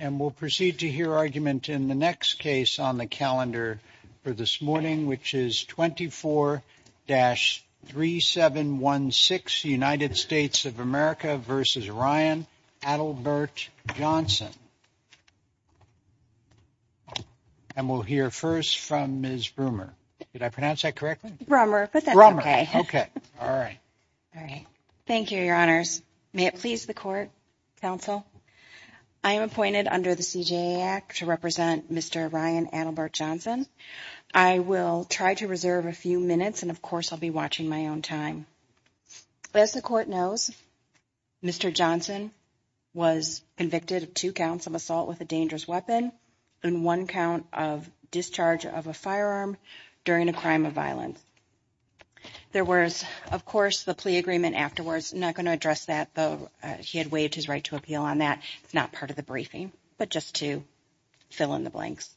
and we'll proceed to hear argument in the next case on the calendar for this morning which is 24-3716 United States of America v. Ryan Adelbert Johnson and we'll hear first from Ms. Brummer. Did I pronounce that correctly? Brummer, but that's okay. Okay. All right. Thank you, Your Honors. May it please the Court, Counsel, I am appointed under the CJA Act to represent Mr. Ryan Adelbert Johnson. I will try to reserve a few minutes and, of course, I'll be watching my own time. As the Court knows, Mr. Johnson was convicted of two counts of assault with a dangerous crime. There was, of course, the plea agreement afterwards. I'm not going to address that, though he had waived his right to appeal on that. It's not part of the briefing, but just to fill in the blanks.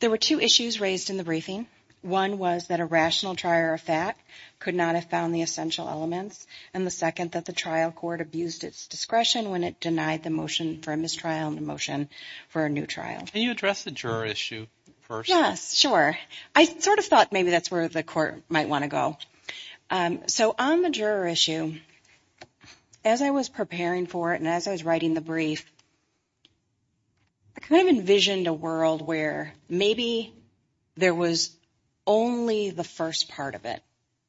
There were two issues raised in the briefing. One was that a rational trier of fact could not have found the essential elements, and the second, that the trial court abused its discretion when it denied the motion for a mistrial and the motion for a new trial. Can you address the juror issue first? Yes, sure. I sort of thought maybe that's where the Court might want to go. So on the juror issue, as I was preparing for it and as I was writing the brief, I kind of envisioned a world where maybe there was only the first part of it,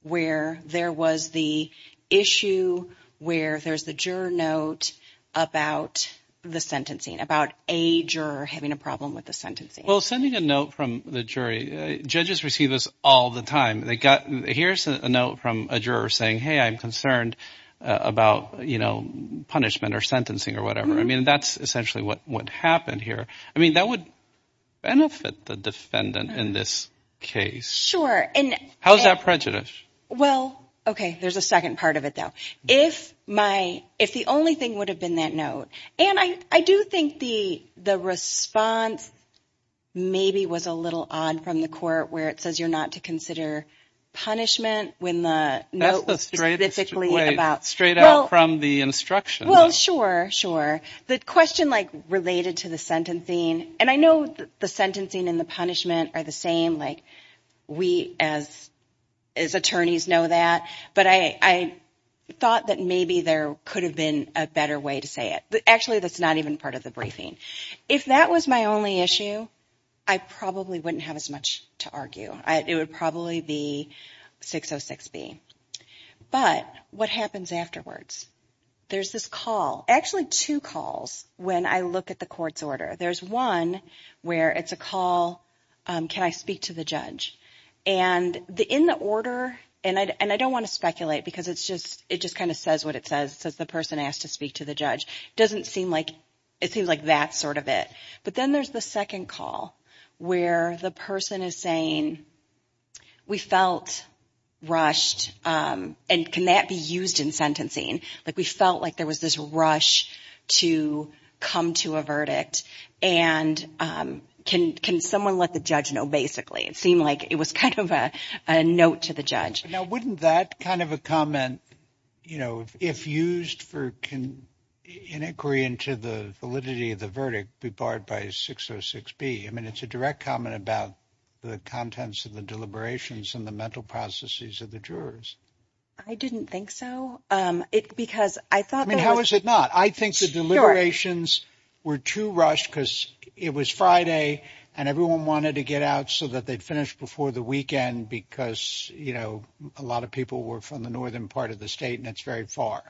where there was the issue where there's the juror note about the sentencing, about a juror having a problem with the sentencing. Well, sending a note from the jury, judges receive this all the time. They got, here's a note from a juror saying, hey, I'm concerned about, you know, punishment or sentencing or whatever. I mean, that's essentially what happened here. I mean, that would benefit the defendant in this case. Sure. How's that prejudice? Well, okay, there's a second part of it, though. If my, if the only thing would have been that note. And I do think the response maybe was a little odd from the Court where it says you're not to consider punishment when the note was specifically about... That's the straight out from the instructions. Well, sure, sure. The question like related to the sentencing, and I know the sentencing and the punishment are the same, like we as attorneys know that, but I thought that maybe there could have been a better way to say it. Actually, that's not even part of the briefing. If that was my only issue, I probably wouldn't have as much to argue. It would probably be 606B. But what happens afterwards? There's this call, actually two calls when I look at the court's order. There's one where it's a call, can I speak to the judge? And in the order, and I don't want to speculate because it's just, it just kind of says what it says. It says the person asked to speak to the judge. It doesn't seem like, it seems like that's sort of it. But then there's the second call where the person is saying, we felt rushed, and can that be used in sentencing? Like we felt like there was this rush to come to a verdict. And can someone let the judge know, basically? It seemed like it was kind of a note to the judge. Now, wouldn't that kind of a comment, you know, if used for, in inquiry into the validity of the verdict, be barred by 606B? I mean, it's a direct comment about the contents of the deliberations and the mental processes of the jurors. I didn't think so. It because I thought, I mean, how is it not? I think the deliberations were too rushed, because it was Friday, and everyone wanted to get out so that they'd finished before the weekend. Because, you know, a lot of people were from the northern part of the state, and it's very far.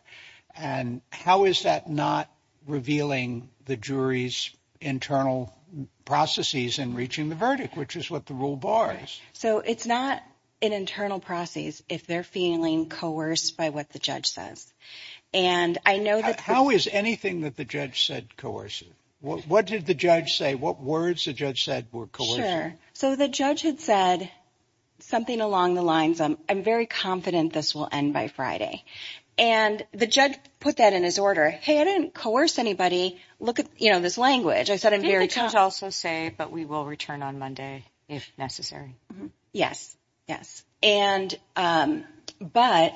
And how is that not revealing the jury's internal processes and reaching the verdict, which is what the rule bars? So it's not an internal process if they're feeling coerced by what the judge says. And I know that. How is anything that the judge said coercive? What did the judge say? What words the judge said were coerced? Sure. So the judge had said something along the lines of, I'm very confident this will end by Friday. And the judge put that in his order. Hey, I didn't coerce anybody. Look at, you know, this language. I said I'm also say, but we will return on Monday, if necessary. Yes, yes. And but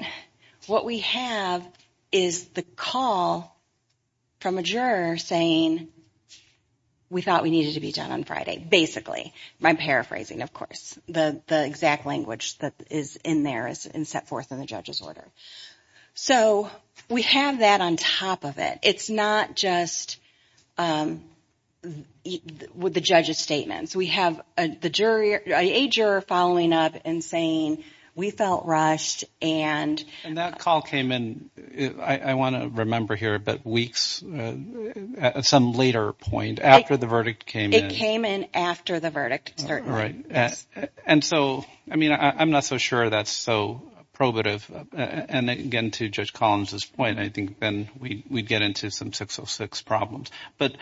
what we have is the call from a juror saying, we thought we needed to be done on Friday, basically, my paraphrasing, of course, the exact language that is in there is in set forth in the judge's order. So we have that on top of it. It's not just with the judge's statements. We have the jury, a juror following up and saying, we felt rushed and that call came in. I want to remember here, but weeks at some later point after the verdict came, it came in after the verdict. And so, I mean, I'm not so sure that's so probative. And again, to Judge Collins's point, I think then we'd get into some 606 problems. But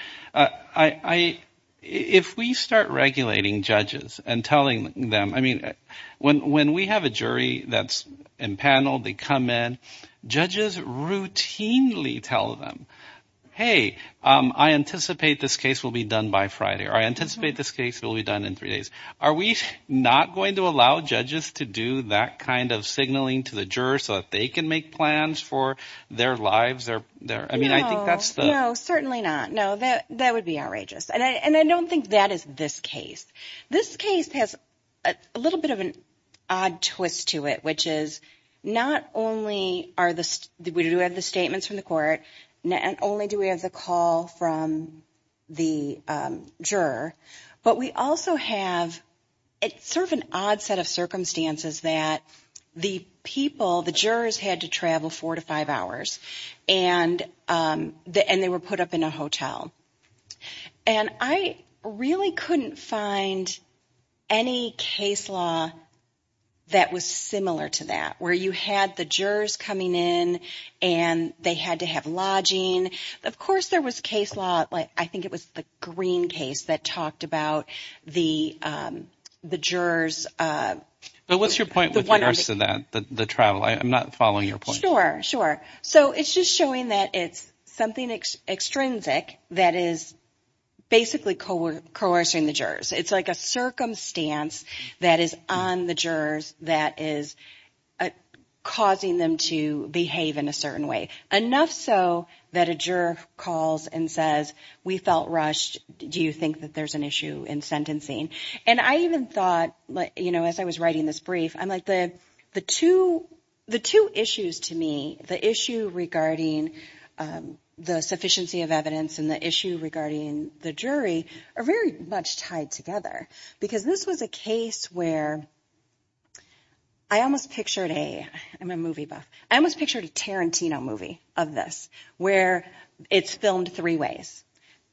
I if we start regulating judges and telling them, I mean, when when we have a jury that's in panel, they come in, judges routinely tell them, hey, I anticipate this case will be done by Friday or I anticipate this case will be done in three days. Are we not going to allow judges to do that kind of signaling to the juror so that they can make plans for their lives there? I mean, I think that's certainly not. No, that that would be outrageous. And I don't think that is this case. This case has a little bit of an odd twist to it, which is not only are the we do have the statements from the court, not only do we have the call from the juror, but we also have it sort of an odd set of circumstances that the people, the jurors had to travel four to five hours and they were put up in a hotel. And I really couldn't find any case law that was similar to that, where you had the jurors coming in and they had to have lodging. Of course, there was case law. I think it was the Green case that talked about the the jurors. But what's your point with that? The travel? I'm not following your point. Sure, sure. So it's just showing that it's something extrinsic that is basically coercing the jurors. It's like a circumstance that is on the jurors that is causing them to behave in a certain way. Enough so that a juror calls and says, we felt rushed. Do you think that there's an issue in sentencing? And I even thought, you know, as I was writing this brief, I'm like the two issues to me, the issue regarding the sufficiency of evidence and the issue regarding the jury are very much tied together. Because this was a case where I almost pictured a I'm a movie buff. I almost pictured a Tarantino movie of this where it's filmed three ways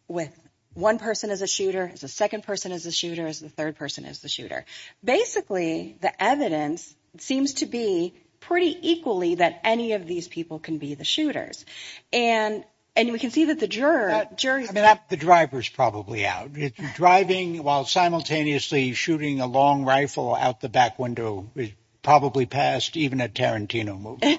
with one person as a shooter, as a second person as a shooter, as the third person as the shooter. Basically, the evidence seems to be pretty equally that any of these people can be the shooters. And and we can see that the juror jury, the driver's probably out driving while simultaneously shooting a long rifle out the back window, probably passed even a Tarantino movie.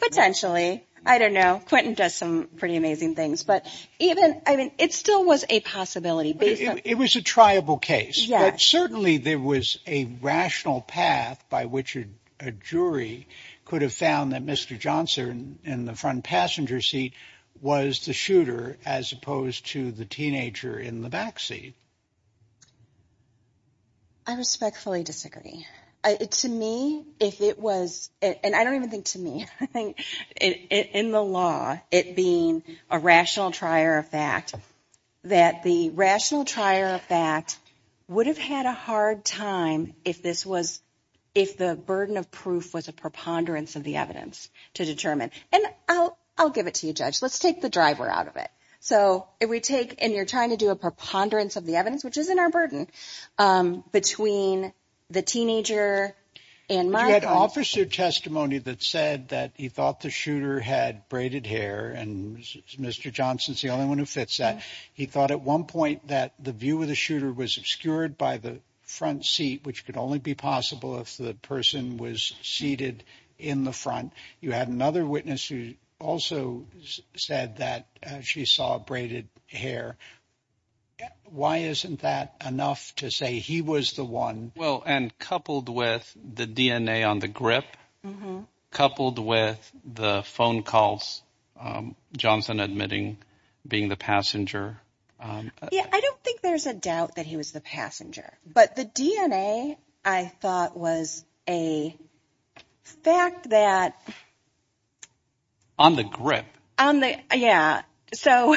Potentially, I don't know. Quentin does some pretty amazing things. But even I mean, it still was a possibility. It was a triable case. Certainly there was a rational path by which a jury could have found that Mr. Johnson in the front passenger seat was the shooter as opposed to the teenager in the backseat. I respectfully disagree. To me, if it was and I don't even think to me, I think in the law, it being a rational trier of fact that the rational trier of fact would have had a hard time if this was if the burden of proof was a preponderance of the evidence to determine. And I'll I'll give it to you, Judge. Let's take the driver out of it. So if we take and you're trying to do a preponderance of the evidence, which is in our burden between the teenager and my officer testimony that said that he thought the shooter had braided hair and Mr. Johnson's the only one who fits that. He thought at one point that the view of the shooter was obscured by the front seat, which could only be possible if the person was seated in the front. You had another witness who also said that she saw braided hair. Why isn't that enough to say he was the one? Well, and coupled with the DNA on the grip, coupled with the phone calls, Johnson admitting being the passenger. Yeah, I don't think there's a doubt that he was the passenger. But the DNA, I thought, was a fact that. On the grip on the. Yeah. So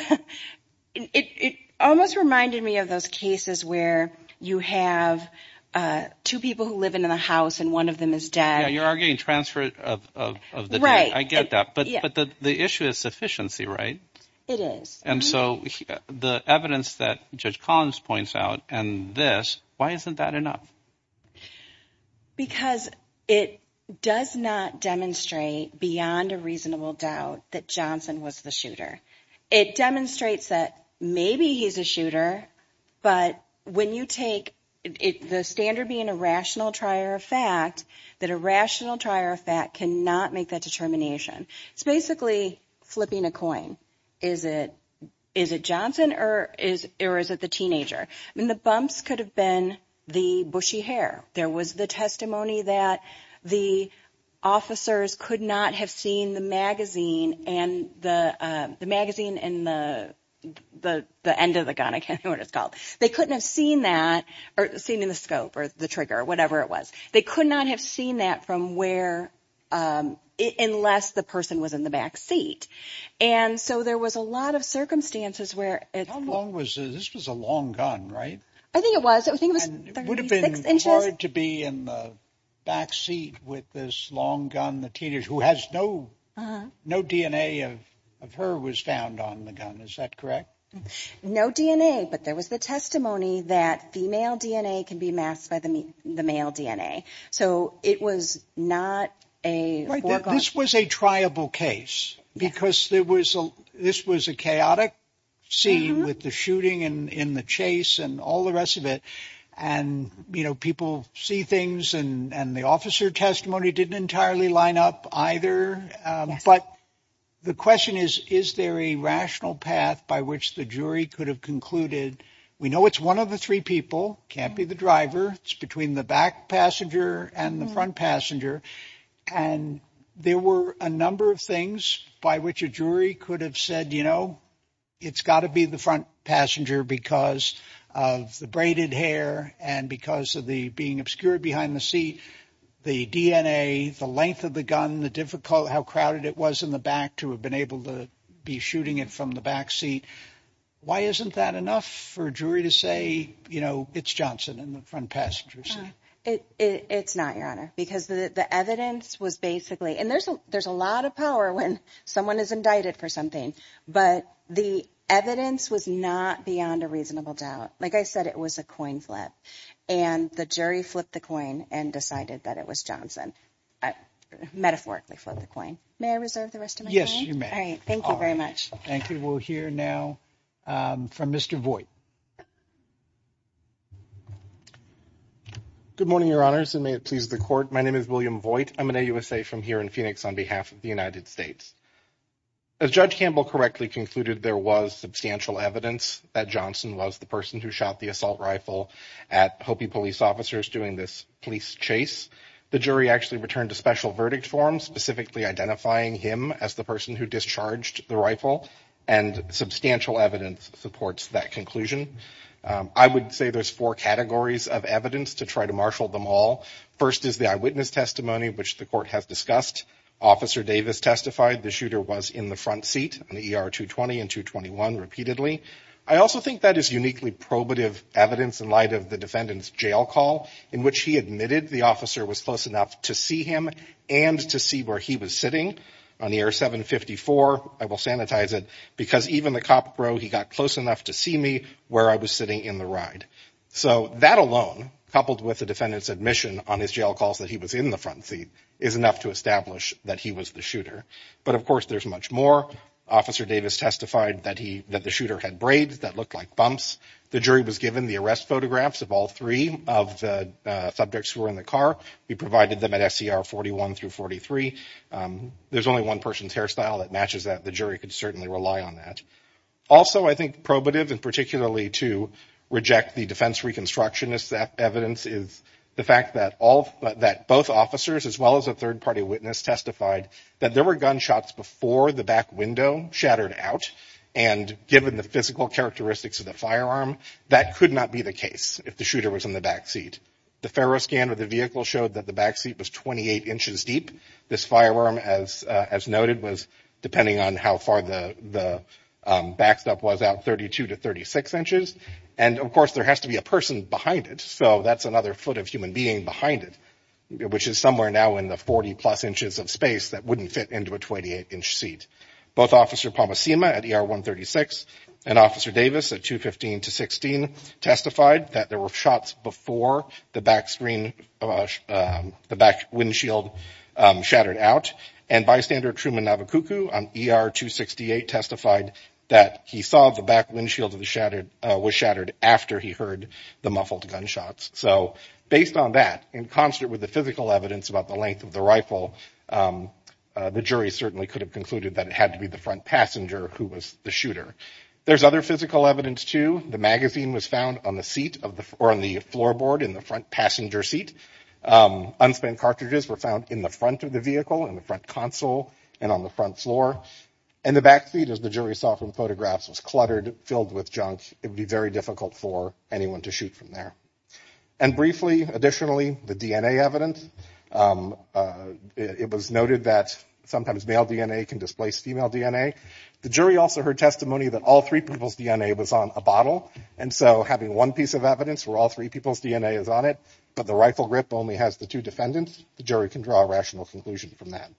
it almost reminded me of those cases where you have two people who live in the house and one of them is dead. You're arguing transfer of the right. Get that. But the issue is sufficiency, right? It is. And so the evidence that Judge Collins points out and this, why isn't that enough? Because it does not demonstrate beyond a reasonable doubt that Johnson was the shooter. It demonstrates that maybe he's a shooter. But when you take the standard being a rational trier of fact, that a rational trier of fact cannot make that determination. It's basically flipping a coin. Is it Johnson or is it the teenager? I mean, the bumps could have been the bushy hair. There was the testimony that the officers could not have seen the magazine and the magazine and the end of the gun, I can't remember what it's called. They couldn't have seen that or seen in the scope or the trigger whatever it was. They could not have seen that from where unless the person was in the back seat. And so there was a lot of circumstances where it was. This was a long gun, right? I think it was. I think it would have been hard to be in the back seat with this long gun. The teenager who has no no DNA of of her was found on the gun. Is that correct? No DNA. But there could be masked by the male DNA. So it was not a. This was a triable case because there was a this was a chaotic scene with the shooting and in the chase and all the rest of it. And, you know, people see things and the officer testimony didn't entirely line up either. But the question is, is there a rational path by which the jury could have concluded? We know it's one of the three people can't be the driver between the back passenger and the front passenger. And there were a number of things by which a jury could have said, you know, it's got to be the front passenger because of the braided hair and because of the being obscured behind the seat, the DNA, the length of the gun, the difficult how crowded it was in the back to have been able to be shooting it from the back seat. Why isn't that enough for a jury to say, you know, it's Johnson in the front passenger seat? It's not your honor, because the evidence was basically and there's there's a lot of power when someone is indicted for something. But the evidence was not beyond a reasonable doubt. Like I said, it was a coin flip and the jury flipped the coin and decided that it was Johnson metaphorically flip the coin. May I reserve the rest of my. Yes, you may. All right. Thank you very much. Thank you. We'll hear now from Mr. Boyd. Good morning, your honors, and may it please the court. My name is William Boyd. I'm an USA from here in Phoenix on behalf of the United States. As Judge Campbell correctly concluded, there was substantial evidence that Johnson was the person who shot the assault rifle at Hopi police officers doing this police chase. The jury actually returned a special verdict form specifically identifying him as the person who discharged the rifle. And substantial evidence supports that conclusion. I would say there's four categories of evidence to try to marshal them all. First is the eyewitness testimony, which the court has discussed. Officer Davis testified the shooter was in the front seat on the ER 220 and 221 repeatedly. I also think that is uniquely probative evidence in light of the defendant's jail call in which he admitted the officer was close enough to see him and to see where he was sitting on the ER 754. I will sanitize it because even the cop row, he got close enough to see me where I was sitting in the ride. So that alone, coupled with the defendant's admission on his jail calls that he was in the front seat, is enough to establish that he was the shooter. But of course, there's much more. Officer Davis testified that the shooter had braids that looked like bumps. The jury was given the arrest photographs of all three of the subjects who were in the car. We provided them at SCR 41 through 43. There's only one person's hairstyle that matches that. The jury could certainly rely on that. Also, I think probative and particularly to reject the defense reconstructionist evidence is the fact that both officers as well as a third party witness testified that there were gunshots before the back window shattered out. And given the physical characteristics of the firearm, that could not be the case if the vehicle showed that the back seat was 28 inches deep. This firearm, as noted, was depending on how far the backstop was out, 32 to 36 inches. And of course, there has to be a person behind it. So that's another foot of human being behind it, which is somewhere now in the 40 plus inches of space that wouldn't fit into a 28 inch seat. Both Officer Palmescima at ER 136 and Officer Davis at 215 to 216 testified that there were shots before the back screen, the back windshield shattered out. And bystander Truman Navokuku on ER 268 testified that he saw the back windshield was shattered after he heard the muffled gunshots. So based on that, in concert with the physical evidence about the length of the rifle, the jury certainly could have concluded that it had to be the front passenger who was the shooter. There's other physical evidence, too. The magazine was found on the seat or on the floorboard in the front passenger seat. Unspinned cartridges were found in the front of the vehicle, in the front console, and on the front floor. And the back seat, as the jury saw from photographs, was cluttered, filled with junk. It would be very difficult for anyone to shoot from there. And briefly, additionally, the DNA evidence. It was noted that sometimes male DNA can displace female DNA. The jury also heard testimony that all three people's DNA was on a bottle. And so having one piece of evidence where all three people's DNA is on it, but the rifle grip only has the two defendants, the jury can draw a rational conclusion from that.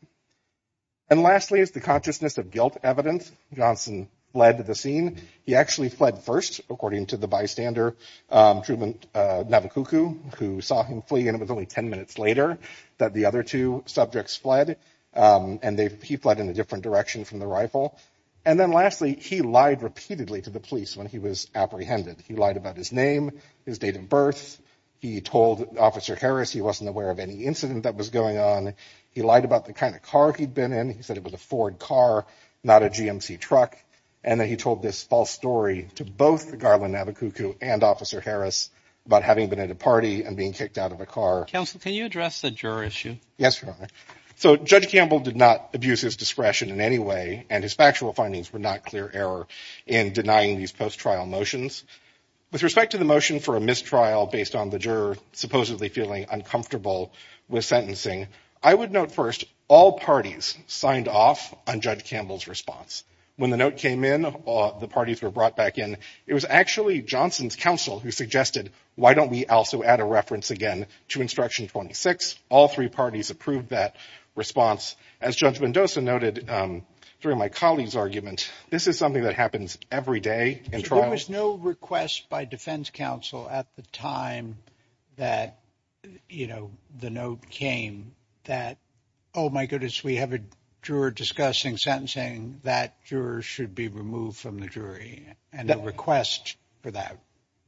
And lastly, is the consciousness of guilt evidence. Johnson fled the scene. He actually fled first, according to the bystander, Truman Navokuku, who saw him flee. And it was only 10 minutes later that the subjects fled. And he fled in a different direction from the rifle. And then lastly, he lied repeatedly to the police when he was apprehended. He lied about his name, his date of birth. He told Officer Harris he wasn't aware of any incident that was going on. He lied about the kind of car he'd been in. He said it was a Ford car, not a GMC truck. And then he told this false story to both Garland Navokuku and Officer Harris about having been at a party and being kicked out of a car. Counsel, can you address the juror issue? Yes, Your Honor. So Judge Campbell did not abuse his discretion in any way, and his factual findings were not clear error in denying these post-trial motions. With respect to the motion for a mistrial based on the juror supposedly feeling uncomfortable with sentencing, I would note first all parties signed off on Judge Campbell's response. When the note came in, the parties were brought back in. It was actually Johnson's counsel who suggested, why don't we also add a reference again to Instruction 26? All three parties approved that response. As Judge Mendoza noted during my colleague's argument, this is something that happens every day in trial. There was no request by defense counsel at the time that, you know, the note came that, oh, my goodness, we have a juror discussing sentencing that juror should be removed from the jury, and the request for that.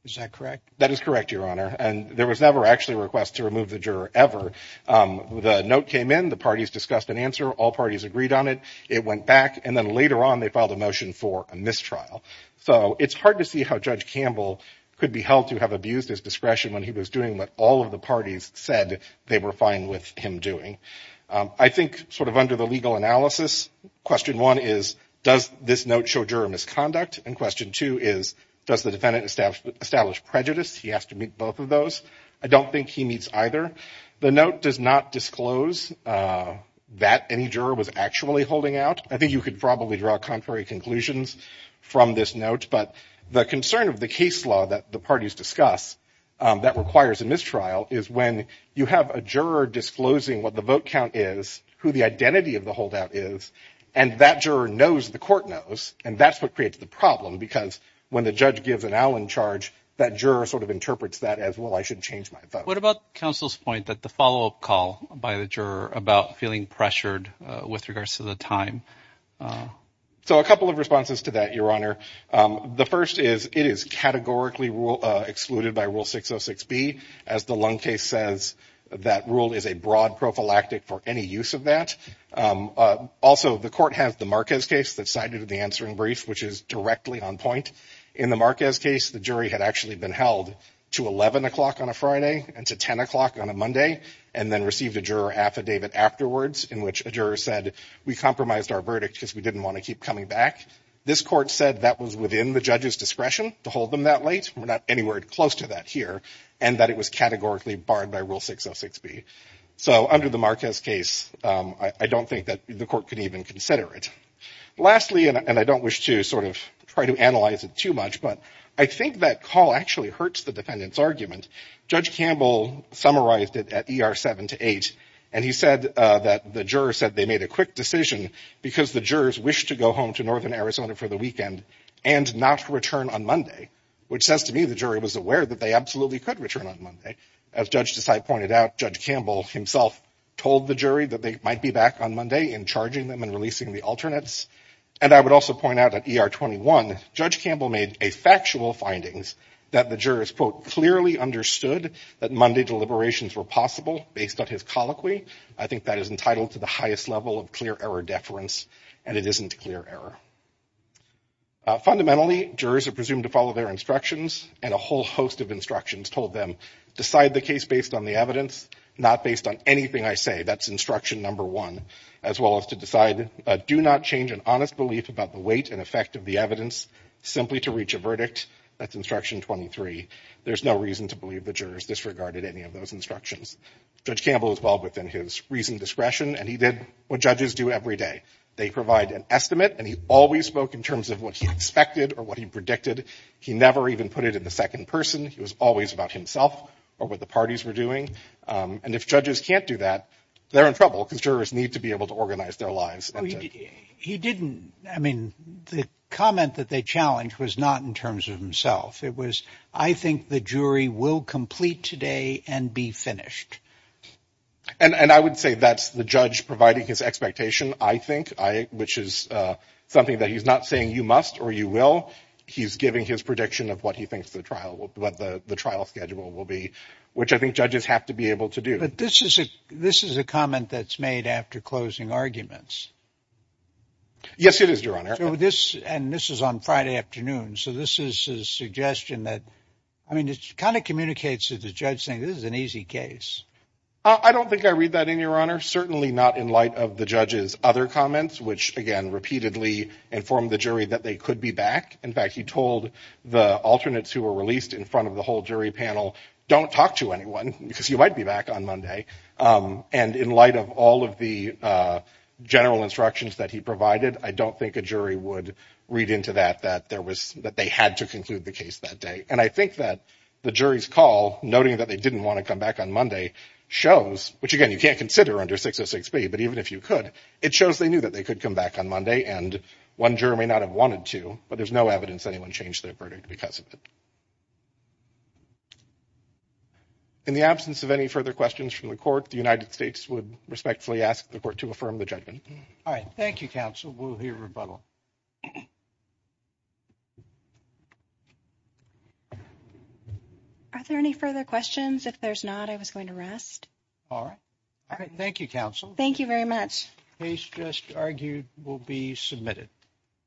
Is that correct? That is correct, Your Honor, and there was never actually a request to remove the juror ever. The note came in, the parties discussed an answer, all parties agreed on it, it went back, and then later on they filed a motion for a mistrial. So it's hard to see how Judge Campbell could be held to have abused his discretion when he was doing what all of the parties said they were fine with him doing. I think, sort of under the legal analysis, question one is, does this note show juror misconduct? And question two is, does the defendant establish prejudice? He has to meet both of those. I don't think he meets either. The note does not disclose that any juror was actually holding out. I think you could probably draw contrary conclusions from this note, but the concern of the case law that the parties discuss that requires a mistrial is when you have a juror disclosing what the vote count is, who the identity of the holdout is, and that juror knows the court knows, and that's what creates the problem, because when the judge gives an Allen charge, that juror sort of interprets that as, well, I should change my vote. What about counsel's point that the follow-up call by the juror about feeling pressured with regards to the time? So a couple of responses to that, Your Honor. The first is, it is categorically rule 606B, as the Lund case says, that rule is a broad prophylactic for any use of that. Also, the court has the Marquez case that's cited in the answering brief, which is directly on point. In the Marquez case, the jury had actually been held to 11 o'clock on a Friday and to 10 o'clock on a Monday, and then received a juror affidavit afterwards, in which a juror said, we compromised our verdict because we didn't want to keep coming back. This court said that was within the judge's discretion to hold them that late. We're not anywhere close to that here, and that it was categorically barred by rule 606B. So under the Marquez case, I don't think that the court could even consider it. Lastly, and I don't wish to sort of try to analyze it too much, but I think that call actually hurts the defendant's argument. Judge Campbell summarized it at ER 7-8, and he said that the juror said they made a quick decision because the jurors wished to go home to northern on Monday, which says to me the jury was aware that they absolutely could return on Monday. As Judge Desai pointed out, Judge Campbell himself told the jury that they might be back on Monday in charging them and releasing the alternates. And I would also point out at ER 21, Judge Campbell made a factual findings that the jurors, quote, clearly understood that Monday deliberations were possible based on his colloquy. I think that is entitled to the highest level of clear error and it isn't clear error. Fundamentally, jurors are presumed to follow their instructions, and a whole host of instructions told them decide the case based on the evidence, not based on anything I say. That's instruction number one, as well as to decide do not change an honest belief about the weight and effect of the evidence simply to reach a verdict. That's instruction 23. There's no reason to believe the jurors disregarded any of those instructions. Judge Campbell was well within his reasoned discretion and he did what judges do every day. They provide an estimate and he always spoke in terms of what he expected or what he predicted. He never even put it in the second person. He was always about himself or what the parties were doing. And if judges can't do that, they're in trouble because jurors need to be able to organize their lives. He didn't. I mean, the comment that they challenged was not in terms of himself. It was I think the jury will complete today and be finished. And I would say that's the judge providing his expectation, I think, which is something that he's not saying you must or you will. He's giving his prediction of what he thinks the trial schedule will be, which I think judges have to be able to do. But this is a comment that's made after closing arguments. Yes, it is, Your Honor. So this and this is on Friday afternoon. So this is a suggestion that, I mean, it kind of communicates to the judge saying this is an easy case. I don't think I read that in, Your Honor. Certainly not in light of the judge's other comments, which, again, repeatedly informed the jury that they could be back. In fact, he told the alternates who were released in front of the whole jury panel, don't talk to anyone because you might be back on Monday. And in light of all of the general instructions that he provided, I don't think a jury would read into that, that there was that they had to conclude the case that day. And I think that the jury's call, noting that they didn't want to come back on Monday, shows which, again, you can't consider under 606B, but even if you could, it shows they knew that they could come back on Monday. And one jury may not have wanted to, but there's no evidence anyone changed their verdict because of it. In the absence of any further questions from the court, the United States would respectfully ask the court to affirm the judgment. All right. Thank you, counsel. We'll hear rebuttal. Are there any further questions? If there's not, I was going to rest. All right. All right. Thank you, counsel. Thank you very much. Case just argued will be submitted.